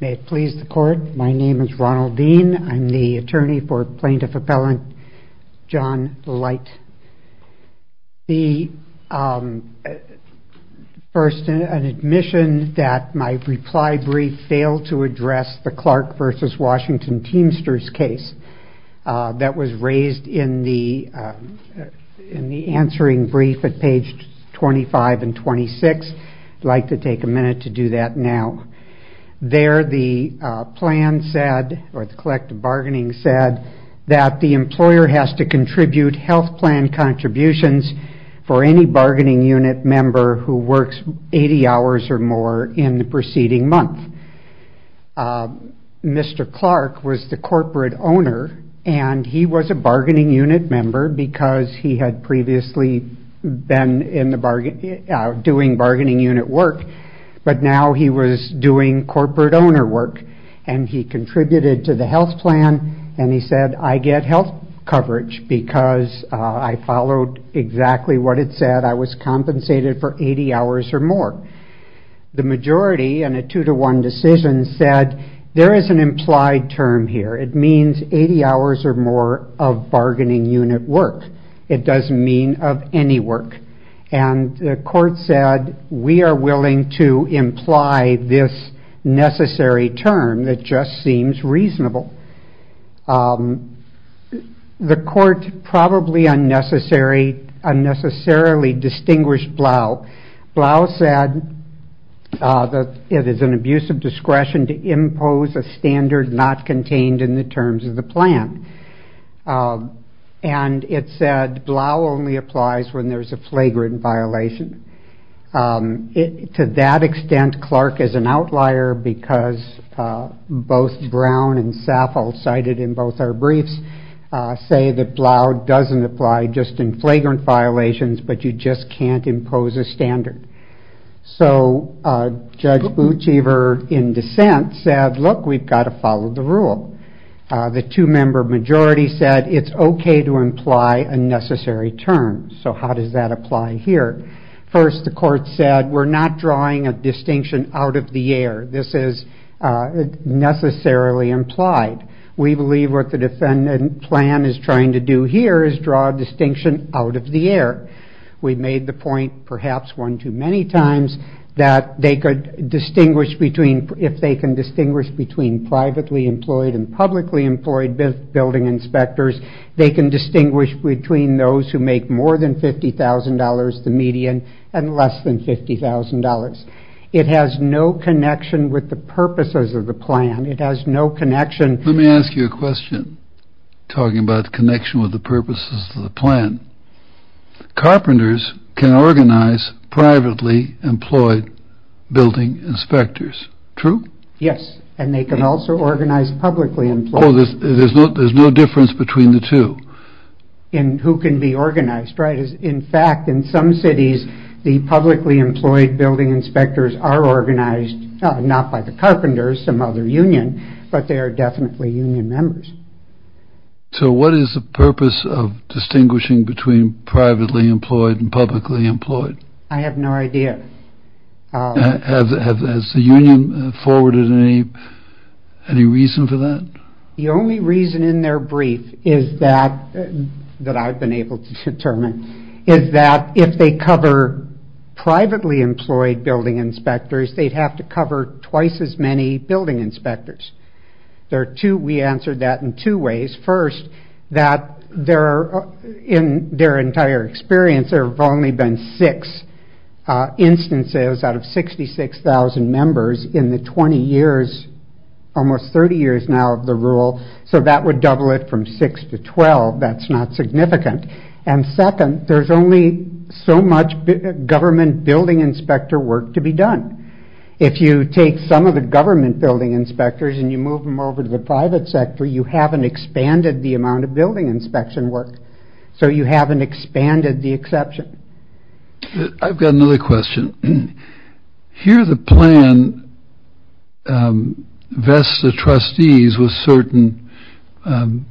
May it please the court, my name is Ronald Dean. I'm the attorney for Plaintiff Appellant John Leicht. First, an admission that my reply brief failed to address the Clark v. Washington Teamsters case that was raised in the answering brief at page 25 and 26. I'd like to take a minute to do that now. There the plan said, or the collective bargaining said, that the employer has to contribute health plan contributions for any bargaining unit member who works 80 hours or more in the preceding month. Mr. Clark was the corporate owner and he was a bargaining unit work, but now he was doing corporate owner work and he contributed to the health plan and he said I get health coverage because I followed exactly what it said. I was compensated for 80 hours or more. The majority and a two-to-one decision said there is an implied term here. It means 80 hours or more of bargaining unit work. It doesn't mean of any work and the we are willing to imply this necessary term that just seems reasonable. The court probably unnecessarily distinguished Blau. Blau said that it is an abuse of discretion to impose a standard not contained in the terms of the plan and it said Blau only applies when there's a To that extent, Clark is an outlier because both Brown and Saffold cited in both our briefs say that Blau doesn't apply just in flagrant violations, but you just can't impose a standard. So Judge Boutiver in dissent said, look, we've got to follow the rule. The two-member majority said it's okay to imply a necessary term. So how does that apply here? First, the court said we're not drawing a distinction out of the air. This is necessarily implied. We believe what the defendant plan is trying to do here is draw a distinction out of the air. We made the point perhaps one too many times that they could distinguish between, if they can distinguish between privately employed and publicly employed building inspectors, they can distinguish between those who make more than $50,000, the median, and less than $50,000. It has no connection with the purposes of the plan. It has no connection. Let me ask you a question talking about the connection with the purposes of the plan. Carpenters can organize privately employed building inspectors, true? Yes. And they can also organize publicly employed. There's no difference between the two. And who can be organized, right? In fact, in some cities, the publicly employed building inspectors are organized, not by the carpenters, some other union, but they are definitely union members. So what is the purpose of distinguishing between privately employed and publicly employed? I have no idea. Has the union forwarded any reason for that? The only reason in their brief is that, that I've been able to determine, is that if they cover privately employed building inspectors, they'd have to cover twice as many building inspectors. There are two, we answered that in two ways. First, that there in their entire experience, there have only been six instances out of 66,000 members in the 20 years, almost 30 years now of the rule. So that would double it from six to 12. That's not significant. And second, there's only so much government building inspector work to be done. If you take some of the government building inspectors and you move them over to the private sector, you haven't expanded the amount of building inspection work. So you haven't expanded the exception. I've got another question. Here the plan vests the trustees with certain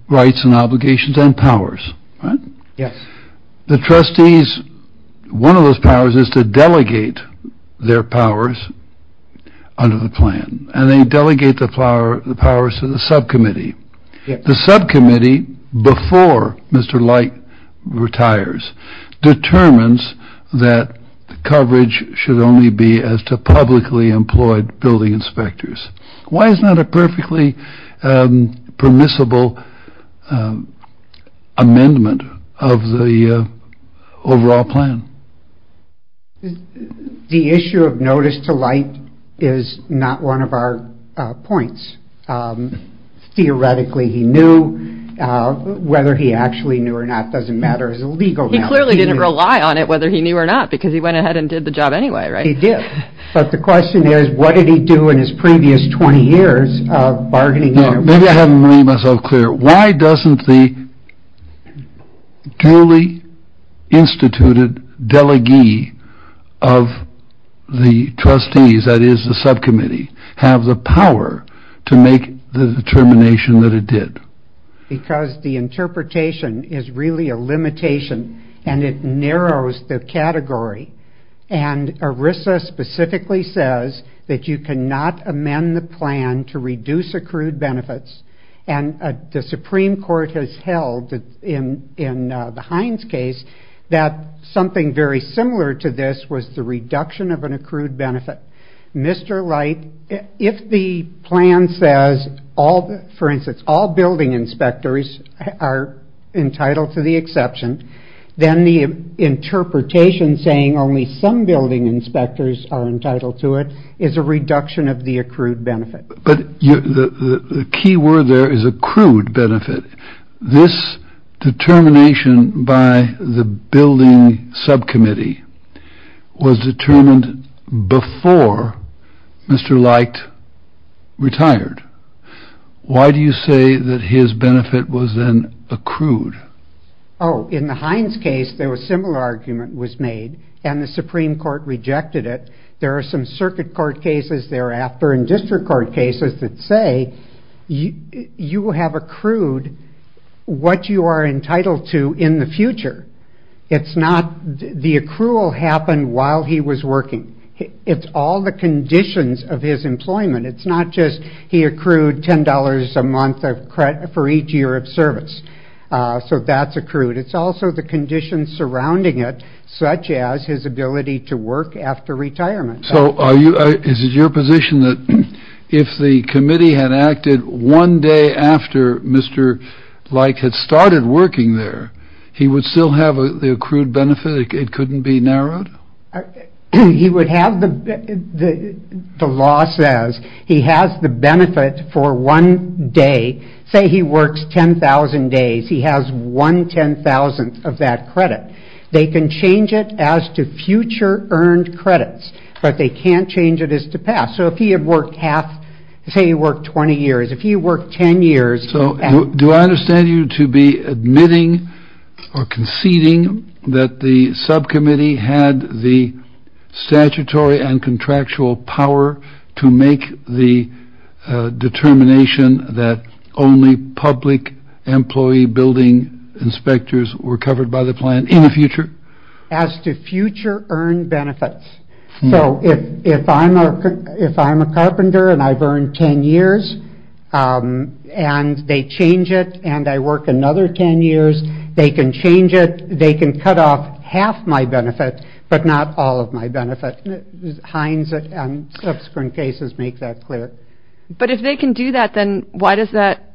rights and obligations and powers, right? Yes. The trustees, one of those powers is to delegate their powers under the plan, and they delegate the power, the powers to the subcommittee. The subcommittee, before Mr. Light retires, determines that the coverage should only be as to publicly employed building inspectors. Why is that a perfectly permissible amendment of the overall plan? The issue of notice to Light is not one of our points. Theoretically, he knew. Whether he actually knew or not doesn't matter as a legal matter. He clearly didn't rely on it whether he knew or not because he went ahead and did the job anyway, right? He did. But the question is, what did he do in his previous 20 years of bargaining? Maybe I haven't made myself clear. Why doesn't the duly instituted delegee of the trustees, that is the subcommittee, have the power to make the determination that it did? Because the interpretation is really a limitation and it narrows the category. And ERISA specifically says that you cannot amend the plan to reduce accrued benefits, and the Supreme Court has held in the Hines case that something very similar to this was the reduction of an accrued benefit. Mr. Light, if the plan says, for instance, all building inspectors are entitled to the exception, then the interpretation saying only some building inspectors are entitled to it is a reduction of the accrued benefit. But the key word there is accrued benefit. This determination by the building subcommittee was determined before Mr. Light retired. Why do you say that his benefit was then accrued? Oh, in the Hines case, a similar argument was made, and the Supreme Court rejected it. There are some circuit court cases thereafter and district court cases that say you have accrued what you are entitled to in the future. The accrual happened while he was working. It's all the conditions of his employment. It's not just he accrued $10 a month for each year of service. So that's accrued. It's also the conditions surrounding it, such as his retirement. So is it your position that if the committee had acted one day after Mr. Light had started working there, he would still have the accrued benefit? It couldn't be narrowed? The law says he has the benefit for one day. Say he works 10,000 days, he has one ten-thousandth of that credit. They can change it as to future earned credits, but they can't change it as to past. So if he had worked half, say he worked 20 years, if he worked 10 years... So do I understand you to be admitting or conceding that the subcommittee had the statutory and contractual power to make the determination that only public employee building inspectors were covered by the plan in the future? As to future earned benefits. So if I'm a carpenter and I've earned 10 years and they change it and I work another 10 years, they can change it, they can cut off half my benefit, but not all of my benefit. Hines and subsequent cases make that clear. But if they can do that, then why does that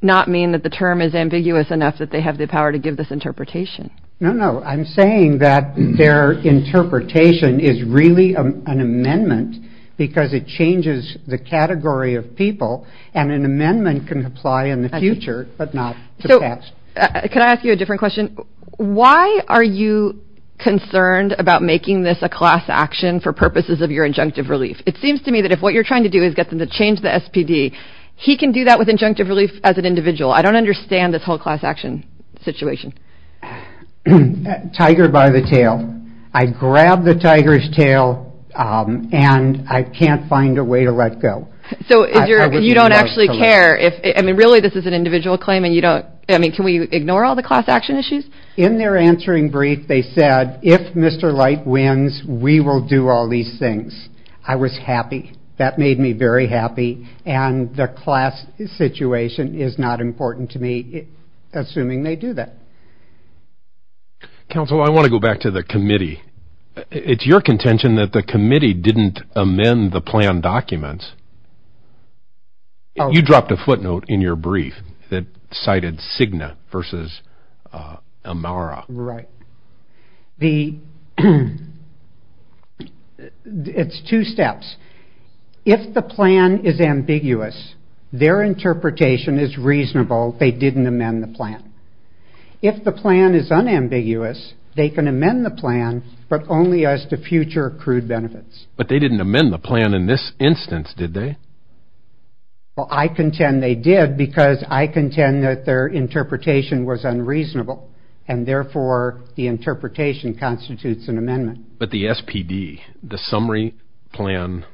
not mean that the term is ambiguous enough that they have the power to give this interpretation? No, no. I'm saying that their interpretation is really an amendment because it changes the category of people and an amendment can apply in the future, but not the past. Can I ask you a different question? Why are you concerned about making this a class action for purposes of your injunctive relief? It seems to me that if what you're trying to do is get them to change the SPD, he can do that with injunctive relief as an individual. I don't understand this whole class action situation. Tiger by the tail. I grab the tiger's tail and I can't find a way to let go. So you don't actually care if, I mean, really this is an individual claim and you don't, I mean, can we ignore all the class action issues? In their answering brief, they said, if Mr. Light wins, we will do all these things. I was happy. That made me very happy and the class situation is not important to me, assuming they do that. Counsel, I want to go back to the committee. It's your contention that the committee didn't amend the plan documents. You dropped a footnote in your brief that cited Cigna versus Amara. Right. It's two steps. If the plan is ambiguous, their interpretation is reasonable they didn't amend the plan. If the plan is unambiguous, they can amend the plan, but only as to future accrued benefits. But they didn't amend the plan in this instance, did they? Well, I contend they did because I contend that their interpretation was unreasonable and therefore the interpretation constitutes an amendment. But the SPD, the summary plan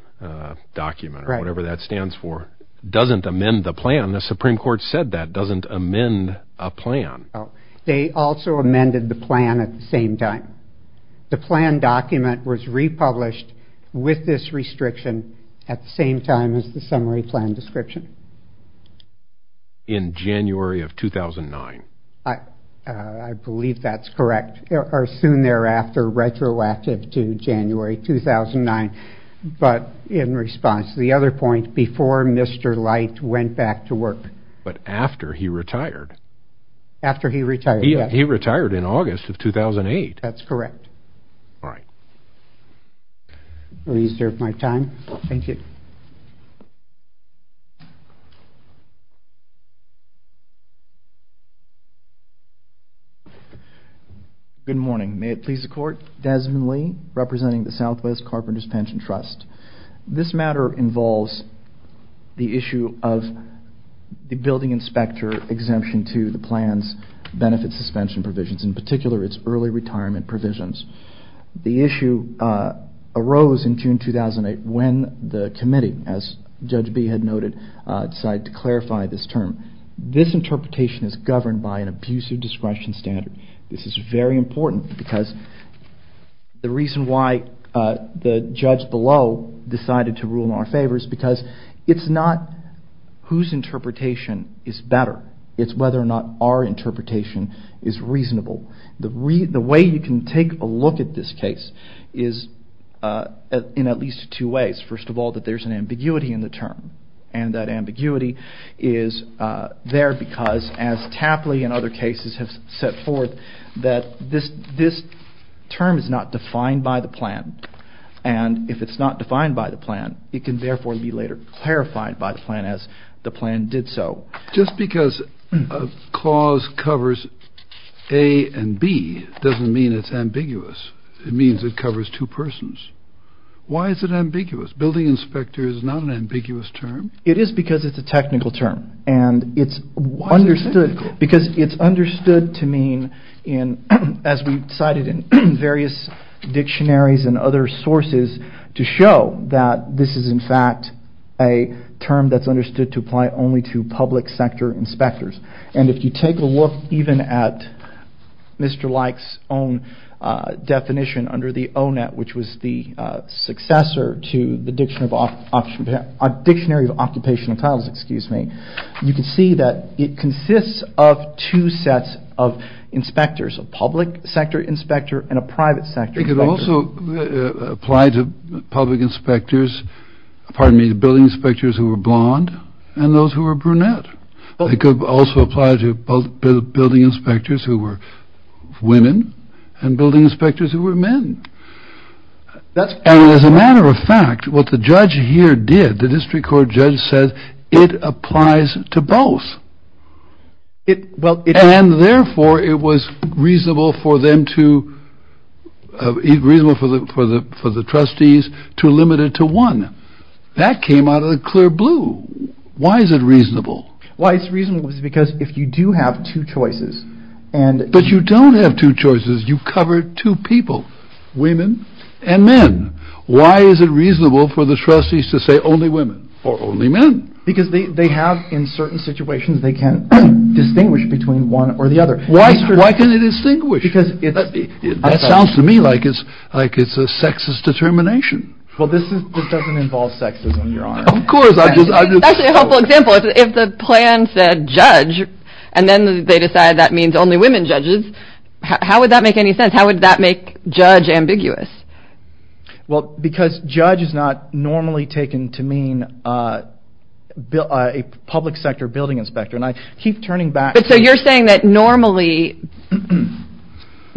document, or whatever that stands for, doesn't amend the plan. The Supreme Court said that, doesn't amend a plan. They also amended the plan at the same time. The plan document was republished with this restriction at the same time as the summary plan description. In January of 2009. I believe that's correct, or soon thereafter, retroactive to January 2009, but in response to the other point, before Mr. Light went back to work. But after he retired. After he retired, yes. He retired in August of 2008. That's correct. All right. I'll reserve my time. Thank you. Good morning. May it please the Court? Desmond Lee, representing the Southwest Carpenters Pension Trust. This matter involves the issue of the building inspector exemption to the plan's benefit suspension provisions, in particular its early retirement provisions. The issue arose in June 2008 when the committee, as Judge Bee had noted, decided to clarify this term. This interpretation is governed by an abusive discretion standard. This is very important because the reason why the judge below decided to rule in our interpretation is reasonable. The way you can take a look at this case is in at least two ways. First of all, that there's an ambiguity in the term. And that ambiguity is there because, as Tapley and other cases have set forth, that this term is not defined by the plan. And if it's not defined by the plan, it can therefore be later clarified by the plan as the plan did so. Just because a clause covers A and B doesn't mean it's ambiguous. It means it covers two persons. Why is it ambiguous? Building inspector is not an ambiguous term? It is because it's a technical term. And it's understood to mean, as we've cited in various dictionaries and other sources, to show that this is, in fact, a term that's understood to apply only to public sector inspectors. And if you take a look even at Mr. Like's own definition under the ONET, which was the successor to the Dictionary of Occupational Classes, you can see that it consists of two sets of inspectors, a public sector inspector and a private sector inspector. They could also apply to public inspectors, pardon me, building inspectors who were blonde and those who were brunette. They could also apply to building inspectors who were women and building inspectors who were men. And as a matter of fact, what the judge here did, the district court judge said, it applies to both. And therefore, it was reasonable for them to, reasonable for the trustees to limit it to one. That came out of the clear blue. Why is it reasonable? Why it's reasonable is because if you do have two choices and. But you don't have two choices. You cover two people, women and men. Why is it reasonable for the trustees to say only women or only men? Because they have, in certain situations, they can distinguish between one or the other. Why can they distinguish? Because it sounds to me like it's a sexist determination. Well, this doesn't involve sexism, your honor. Of course. That's actually a helpful example. If the plan said judge and then they decide that means only women judges, how would that make any sense? How would that make judge ambiguous? Well, because judge is not normally taken to mean a public sector building inspector. And I keep turning back. But so you're saying that normally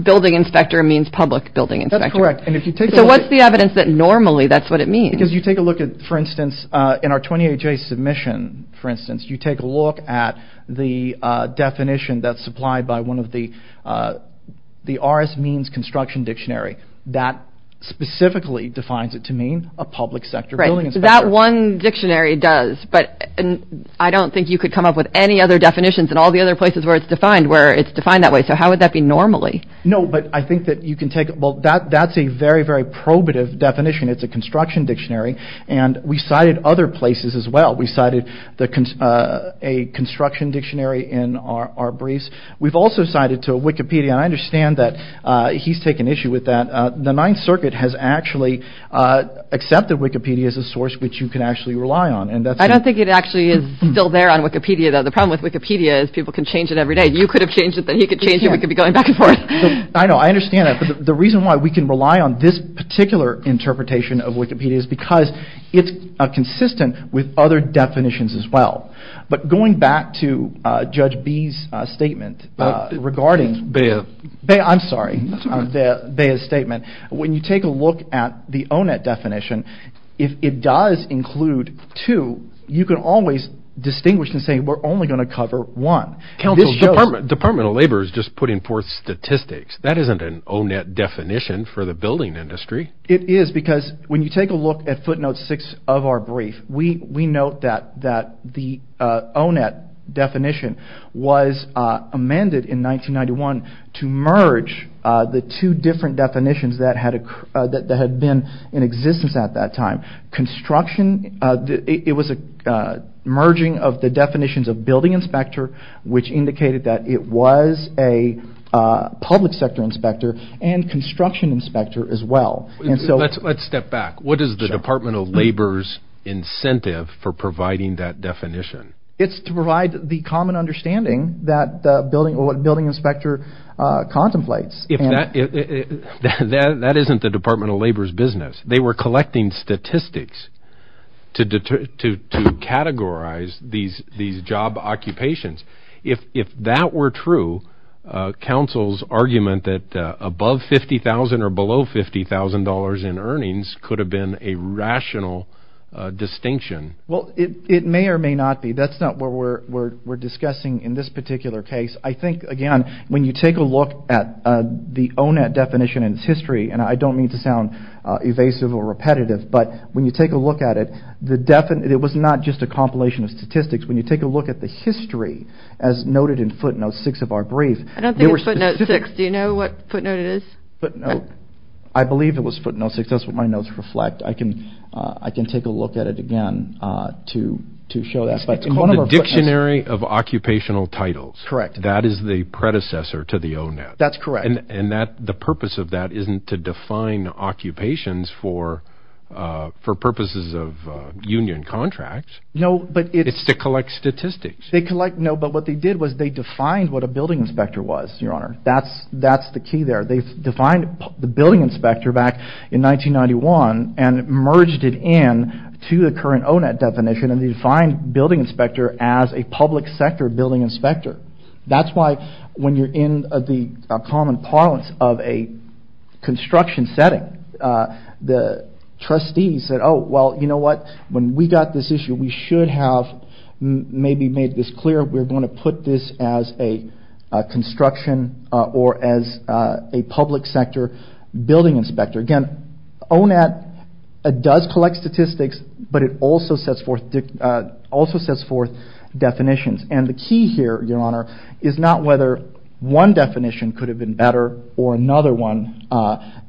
building inspector means public building inspector. That's correct. And if you take a look. So what's the evidence that normally that's what it means? Because you take a look at, for instance, in our 28-J submission, for instance, you take a look at the definition that's supplied by one of the, the RS means construction dictionary that specifically defines it to mean a public sector. That one dictionary does, but I don't think you could come up with any other definitions and all the other places where it's defined, where it's defined that way. So how would that be normally? No, but I think that you can take. Well, that that's a very, very probative definition. It's a construction dictionary. And we cited other places as well. We cited a construction dictionary in our briefs. We've also cited to Wikipedia. I understand that he's taken issue with that. The Ninth Circuit has actually accepted Wikipedia as a source, which you can actually rely on. And I don't think it actually is still there on Wikipedia, though. The problem with Wikipedia is people can change it every day. You could have changed it. Then he could change it. We could be going back and forth. I know. I understand that. But the reason why we can rely on this particular interpretation of Wikipedia is because it's consistent with other definitions as well. But going back to Judge B's statement regarding... Baya. Baya, I'm sorry. That's all right. Baya's statement. When you take a look at the ONET definition, if it does include two, you can always distinguish and say, we're only going to cover one. Council, Department of Labor is just putting forth statistics. That isn't an ONET definition for the building industry. It is. Because when you take a look at footnote six of our brief, we note that the ONET definition was amended in 1991 to merge the two different definitions that had been in existence at that time. Construction. It was a merging of the definitions of building inspector, which indicated that it was a public sector inspector and construction inspector as well. Let's step back. What is the Department of Labor's incentive for providing that definition? It's to provide the common understanding that building inspector contemplates. That isn't the Department of Labor's business. They were collecting statistics to categorize these job occupations. If that were true, Council's argument that above $50,000 or below $50,000 in earnings could have been a rational distinction. Well, it may or may not be. That's not what we're discussing in this particular case. I think, again, when you take a look at the ONET definition and its history, and I don't mean to sound evasive or repetitive, but when you take a look at it, it was not just a compilation of statistics. When you take a look at the history, as noted in footnote six of our brief. I don't think it's footnote six. Do you know what footnote it is? Footnote. I believe it was footnote six. That's what my notes reflect. I can take a look at it again to show that. It's called the Dictionary of Occupational Titles. Correct. That is the predecessor to the ONET. That's correct. And the purpose of that isn't to define occupations for purposes of union contracts. It's to collect statistics. No, but what they did was they defined what a building inspector was, Your Honor. That's the key there. They defined the building inspector back in 1991 and merged it in to the current ONET definition, and they defined building inspector as a public sector building inspector. That's why when you're in the common parlance of a construction setting, the trustees said, Oh, well, you know what? When we got this issue, we should have maybe made this clear. We're going to put this as a construction or as a public sector building inspector. Again, ONET does collect statistics, but it also sets forth definitions. And the key here, Your Honor, is not whether one definition could have been better or another one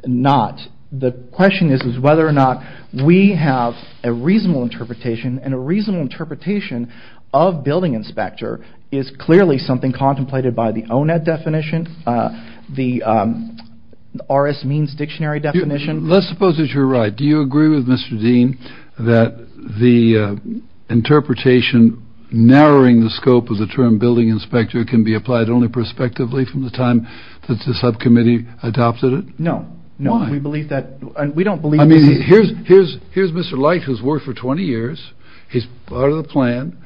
not. The question is whether or not we have a reasonable interpretation. And a reasonable interpretation of building inspector is clearly something contemplated by the ONET definition. The RS means dictionary definition. Let's suppose that you're right. Do you agree with Mr. Dean that the interpretation narrowing the scope of the term building inspector can be applied only prospectively from the time that the subcommittee adopted it? No. No, we believe that. We don't believe. I mean, here's here's here's Mr. Light has worked for 20 years. He's part of the plan.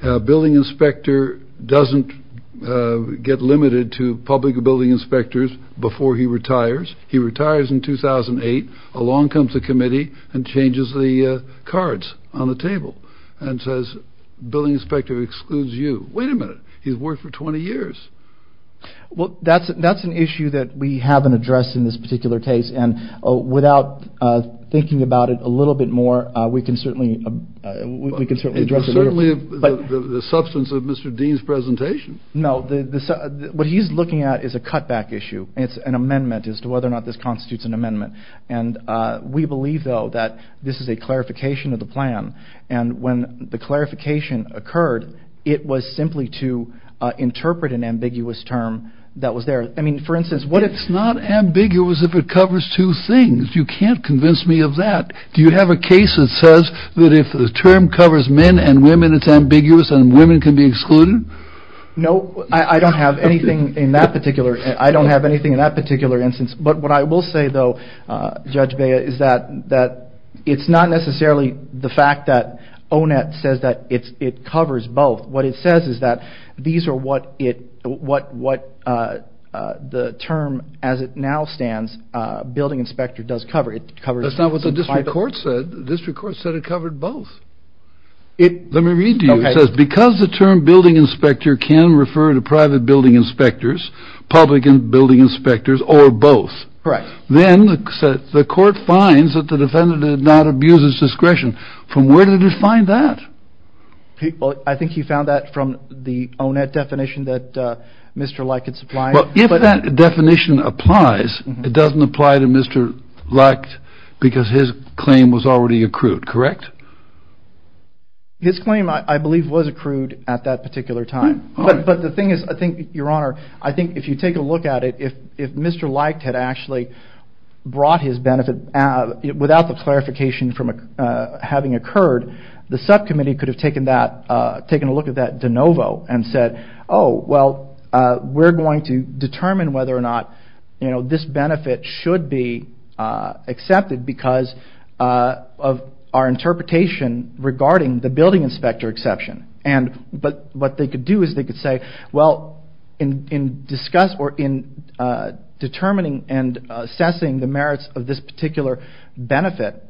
Building inspector doesn't get limited to public building inspectors before he retires. He retires in 2008. Along comes the committee and changes the cards on the table and says building inspector excludes you. Wait a minute. He's worked for 20 years. Well, that's that's an issue that we haven't addressed in this particular case. And without thinking about it a little bit more, we can certainly we can certainly address the substance of Mr. Dean's presentation. No. What he's looking at is a cutback issue. It's an amendment as to whether or not this constitutes an amendment. And we believe, though, that this is a clarification of the plan. And when the clarification occurred, it was simply to interpret an ambiguous term that was there. I mean, for instance, what it's not ambiguous if it covers two things. You can't convince me of that. Do you have a case that says that if the term covers men and women, it's ambiguous and women can be excluded? No, I don't have anything in that particular. I don't have anything in that particular instance. But what I will say, though, Judge Baya, is that that it's not necessarily the fact that Onet says that it's it covers both. What it says is that these are what it what what the term as it now stands building inspector does cover. It covers. That's not what the district court said. The district court said it covered both. Let me read to you. Because the term building inspector can refer to private building inspectors, public and building inspectors or both. Correct. Then the court finds that the defendant did not abuse his discretion. From where did you find that? I think he found that from the Onet definition that Mr. Like it's fine. But if that definition applies, it doesn't apply to Mr. Like because his claim was already accrued. Correct. His claim, I believe, was accrued at that particular time. But the thing is, I think, Your Honor, I think if you take a look at it, if if Mr. Like had actually brought his benefit without the clarification from having occurred, the subcommittee could have taken that taken a look at that de novo and said, oh, well, we're going to determine whether or not, you know, this benefit should be accepted because of our interpretation. Regarding the building inspector exception. And but what they could do is they could say, well, in in discuss or in determining and assessing the merits of this particular benefit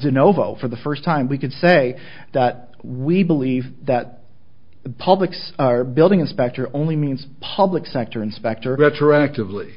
de novo for the first time, we could say that we believe that the public's are building inspector only means public sector inspector retroactively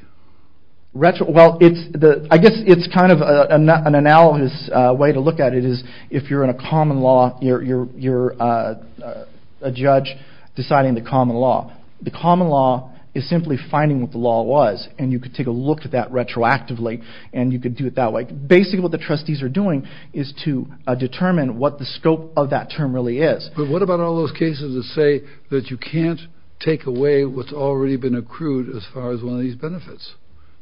retro. I guess it's kind of an analogous way to look at it is if you're in a common law, you're you're you're a judge deciding the common law. The common law is simply finding what the law was. And you could take a look at that retroactively and you could do it that way. Basically, what the trustees are doing is to determine what the scope of that term really is. But what about all those cases that say that you can't take away what's already been accrued as far as one of these benefits?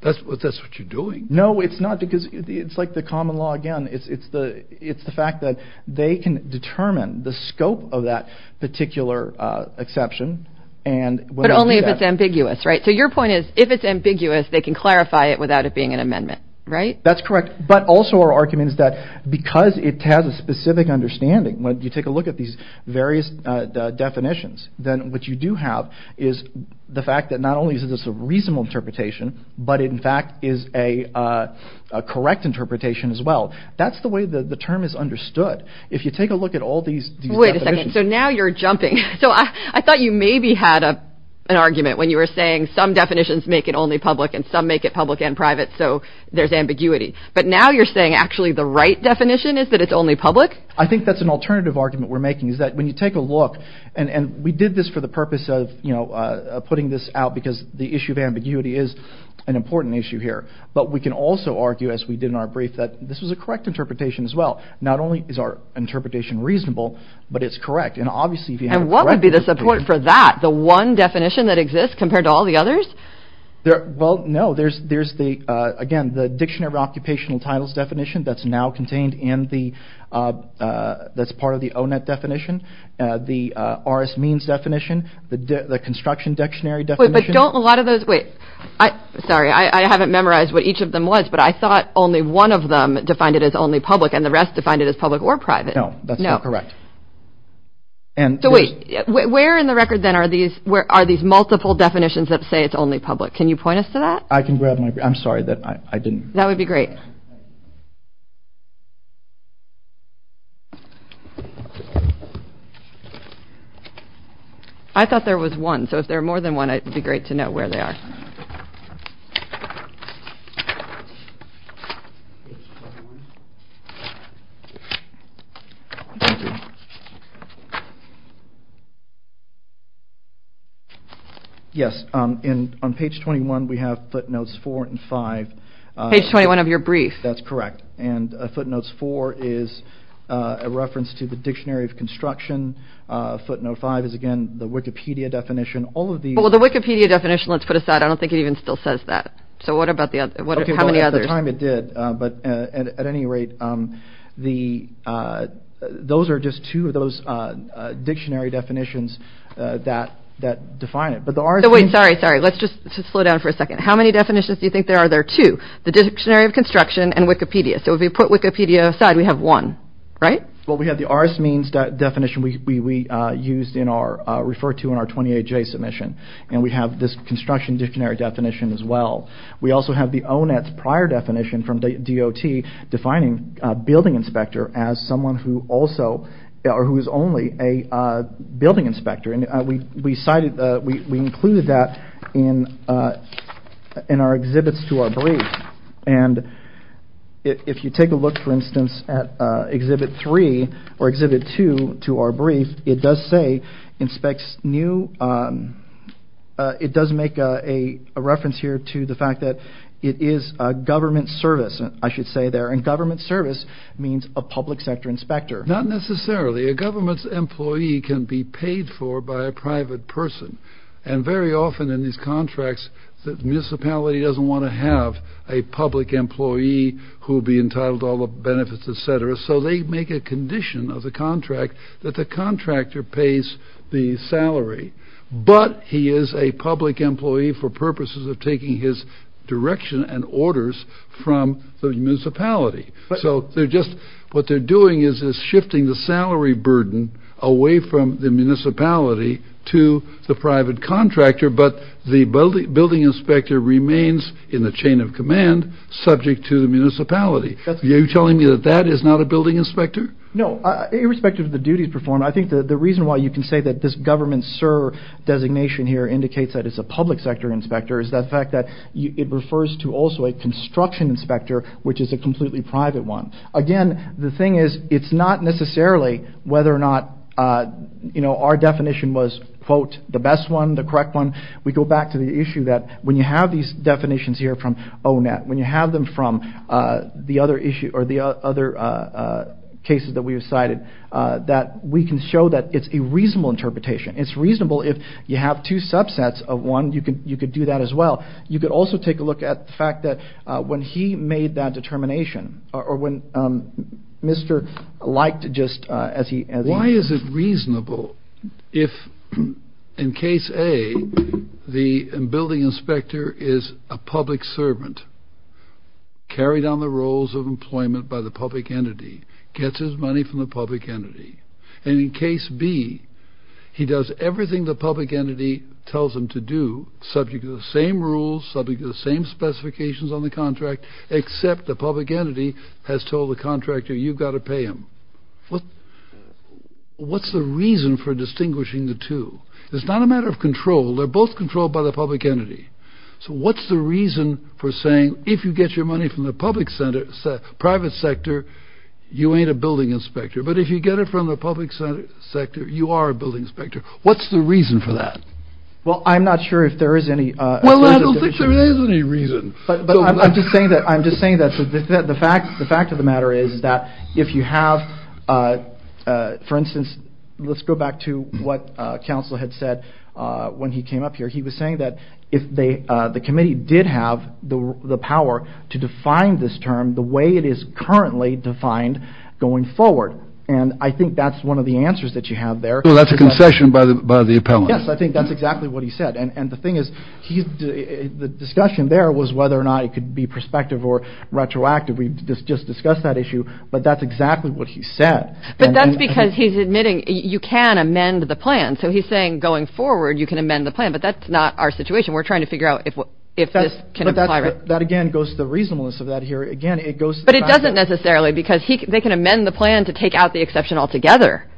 That's what that's what you're doing. No, it's not. Because it's like the common law. Again, it's it's the it's the fact that they can determine the scope of that particular exception. And but only if it's ambiguous. Right. So your point is, if it's ambiguous, they can clarify it without it being an amendment. Right. That's correct. But also our argument is that because it has a specific understanding when you take a look at these various definitions, then what you do have is the fact that not only is this a reasonable interpretation, but in fact is a correct interpretation as well. That's the way the term is understood. If you take a look at all these. So now you're jumping. So I thought you maybe had an argument when you were saying some definitions make it only public and some make it public and private. So there's ambiguity. But now you're saying actually the right definition is that it's only public. I think that's an alternative argument we're making is that when you take a look and we did this for the purpose of, you know, putting this out because the issue of ambiguity is an important issue here. But we can also argue, as we did in our brief, that this was a correct interpretation as well. Not only is our interpretation reasonable, but it's correct. And obviously, if you have what would be the support for that, the one definition that exists compared to all the others. Well, no, there's there's the again, the Dictionary of Occupational Titles definition that's now contained in the that's part of the ONET definition. The RS means definition, the Construction Dictionary definition. But don't a lot of those wait. Sorry, I haven't memorized what each of them was, but I thought only one of them defined it as only public and the rest defined it as public or private. No, that's not correct. And so where in the record, then, are these where are these multiple definitions that say it's only public? Can you point us to that? I can grab my. I'm sorry that I didn't. That would be great. I thought there was one. So if there are more than one, it would be great to know where they are. Yes. And on page 21, we have footnotes four and five. Page 21 of your brief. That's correct. And footnotes four is a reference to the Dictionary of Construction. Footnote five is, again, the Wikipedia definition. Well, the Wikipedia definition, let's put aside. I don't think it even still says that. So what about the other? How many others? At the time, it did. But at any rate, those are just two of those dictionary definitions that define it. Wait, sorry, sorry. Let's just slow down for a second. How many definitions do you think there are? There are two. The Dictionary of Construction and Wikipedia. So if we put Wikipedia aside, we have one, right? Well, we have the RS means definition we refer to in our 28-J submission. And we have this construction dictionary definition as well. We also have the ONET prior definition from DOT defining a building inspector as someone who is only a building inspector. And we included that in our exhibits to our brief. And if you take a look, for instance, at Exhibit 3 or Exhibit 2 to our brief, it does say inspects new – it does make a reference here to the fact that it is a government service, I should say there. And government service means a public sector inspector. Not necessarily. A government employee can be paid for by a private person. And very often in these contracts, the municipality doesn't want to have a public employee who will be entitled to all the benefits, etc. So they make a condition of the contract that the contractor pays the salary. But he is a public employee for purposes of taking his direction and orders from the municipality. So they're just – what they're doing is shifting the salary burden away from the municipality to the private contractor. But the building inspector remains in the chain of command subject to the municipality. Are you telling me that that is not a building inspector? No. Irrespective of the duties performed, I think the reason why you can say that this government SIR designation here indicates that it's a public sector inspector is the fact that it refers to also a construction inspector, which is a completely private one. Again, the thing is, it's not necessarily whether or not our definition was, quote, the best one, the correct one. We go back to the issue that when you have these definitions here from O-Net, when you have them from the other cases that we have cited, that we can show that it's a reasonable interpretation. It's reasonable if you have two subsets of one, you could do that as well. You could also take a look at the fact that when he made that determination or when Mr. liked just as he – Why is it reasonable if, in case A, the building inspector is a public servant, carried on the roles of employment by the public entity, gets his money from the public entity, and in case B, he does everything the public entity tells him to do, subject to the same rules, subject to the same specifications on the contract, except the public entity has told the contractor, you've got to pay him. What's the reason for distinguishing the two? It's not a matter of control. They're both controlled by the public entity. So what's the reason for saying, if you get your money from the public sector, private sector, you ain't a building inspector. But if you get it from the public sector, you are a building inspector. What's the reason for that? Well, I'm not sure if there is any – Well, I don't think there is any reason. But I'm just saying that the fact of the matter is that if you have, for instance, let's go back to what counsel had said when he came up here. He was saying that if the committee did have the power to define this term the way it is currently defined going forward. And I think that's one of the answers that you have there. Well, that's a concession by the appellant. Yes, I think that's exactly what he said. And the thing is, the discussion there was whether or not it could be prospective or retroactive. We just discussed that issue, but that's exactly what he said. But that's because he's admitting you can amend the plan. So he's saying going forward you can amend the plan, but that's not our situation. We're trying to figure out if this can apply. That again goes to the reasonableness of that here. But it doesn't necessarily because they can amend the plan to take out the exception altogether.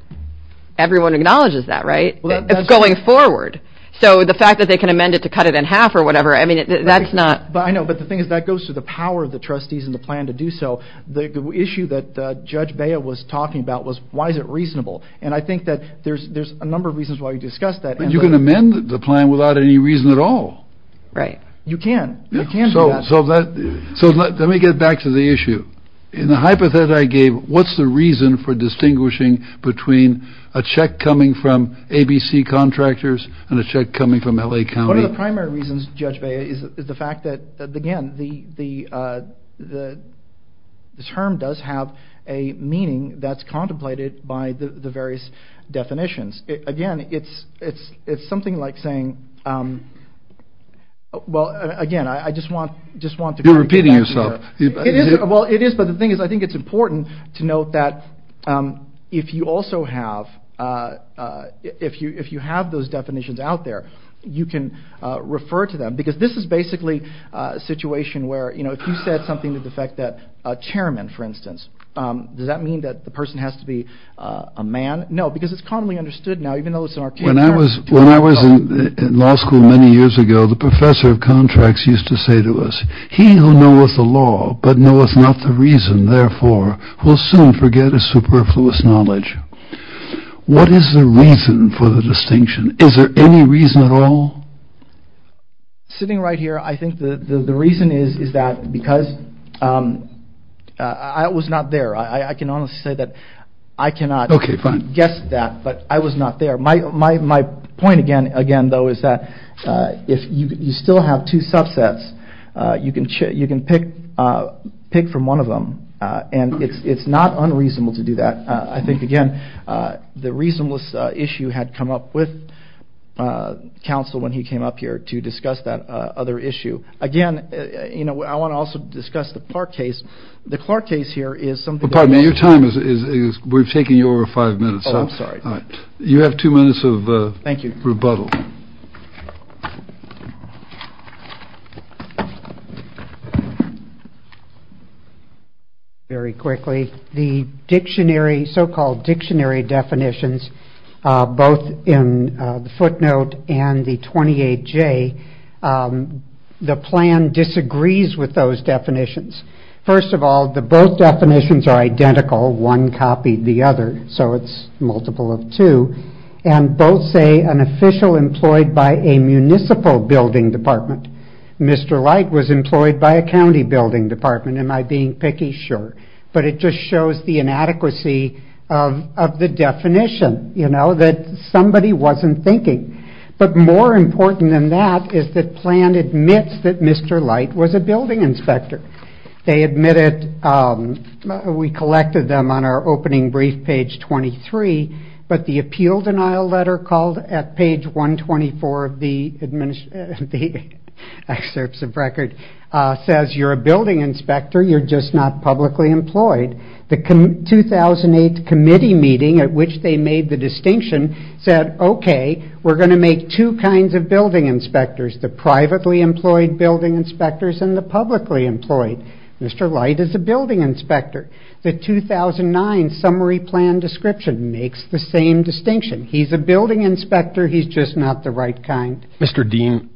Everyone acknowledges that, right? It's going forward. So the fact that they can amend it to cut it in half or whatever, I mean, that's not – I know, but the thing is that goes to the power of the trustees and the plan to do so. The issue that Judge Bea was talking about was why is it reasonable? And I think that there's a number of reasons why we discussed that. But you can amend the plan without any reason at all. Right. You can. You can do that. So let me get back to the issue. In the hypothesis I gave, what's the reason for distinguishing between a check coming from ABC contractors and a check coming from L.A. County? One of the primary reasons, Judge Bea, is the fact that, again, the term does have a meaning that's contemplated by the various definitions. Again, it's something like saying – well, again, I just want to – You're repeating yourself. Well, it is, but the thing is I think it's important to note that if you also have – if you have those definitions out there, you can refer to them. Because this is basically a situation where, you know, if you said something to the effect that a chairman, for instance, does that mean that the person has to be a man? No, because it's commonly understood now, even though it's an archaic term. When I was in law school many years ago, the professor of contracts used to say to us, he who knoweth the law but knoweth not the reason, therefore, will soon forget his superfluous knowledge. What is the reason for the distinction? Is there any reason at all? Sitting right here, I think the reason is that because I was not there. I can honestly say that I cannot guess that, but I was not there. My point, again, though, is that if you still have two subsets, you can pick from one of them, and it's not unreasonable to do that. I think, again, the reasonableness issue had come up with counsel when he came up here to discuss that other issue. Again, you know, I want to also discuss the Clark case. The Clark case here is something that was- Well, pardon me. Your time is-we've taken you over five minutes. Oh, I'm sorry. You have two minutes of rebuttal. Thank you. Very quickly, the dictionary, so-called dictionary definitions, both in the footnote and the 28J, the plan disagrees with those definitions. First of all, the both definitions are identical. One copied the other, so it's multiple of two. And both say an official employed by a municipal building department. Mr. Light was employed by a county building department. Am I being picky? Sure. But it just shows the inadequacy of the definition, you know, that somebody wasn't thinking. But more important than that is that plan admits that Mr. Light was a building inspector. They admit it. We collected them on our opening brief, page 23. But the appeal denial letter called at page 124 of the excerpts of record says you're a building inspector, you're just not publicly employed. The 2008 committee meeting at which they made the distinction said, okay, we're going to make two kinds of building inspectors, the privately employed building inspectors and the publicly employed. Mr. Light is a building inspector. The 2009 summary plan description makes the same distinction. He's a building inspector, he's just not the right kind. Mr. Dean,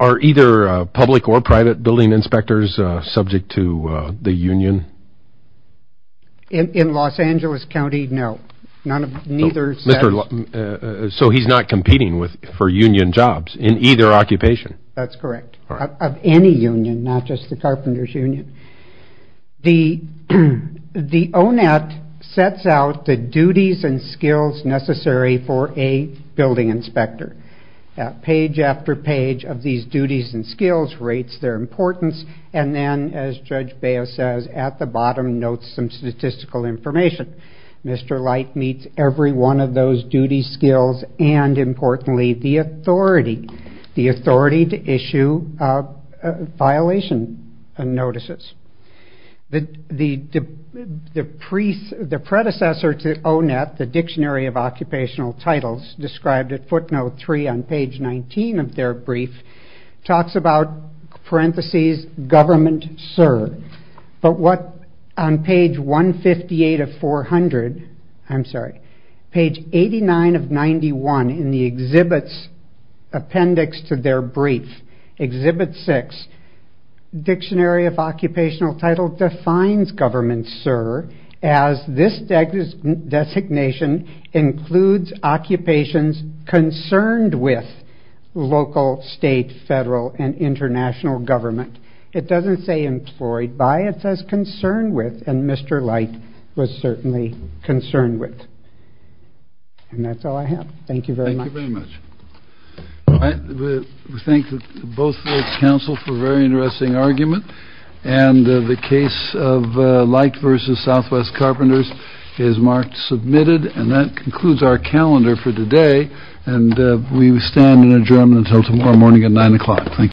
are either public or private building inspectors subject to the union? In Los Angeles County, no. So he's not competing for union jobs in either occupation? That's correct. Of any union, not just the carpenter's union. The ONET sets out the duties and skills necessary for a building inspector. Page after page of these duties and skills rates their importance, and then, as Judge Baio says, at the bottom notes some statistical information. Mr. Light meets every one of those duties, skills, and importantly, the authority. The authority to issue violation notices. The predecessor to ONET, the Dictionary of Occupational Titles, described at footnote three on page 19 of their brief, talks about parentheses government serve. But what on page 158 of 400, I'm sorry, page 89 of 91 in the exhibits appendix to their brief, exhibit six, Dictionary of Occupational Title defines government serve as this designation includes occupations concerned with local, state, federal, and international government. It doesn't say employed by, it says concerned with, and Mr. Light was certainly concerned with. And that's all I have. Thank you very much. Thank you very much. We thank both the Council for a very interesting argument, and the case of Light v. Southwest Carpenters is marked submitted, and that concludes our calendar for today, and we stand in adjournment until tomorrow morning at 9 o'clock. Thank you.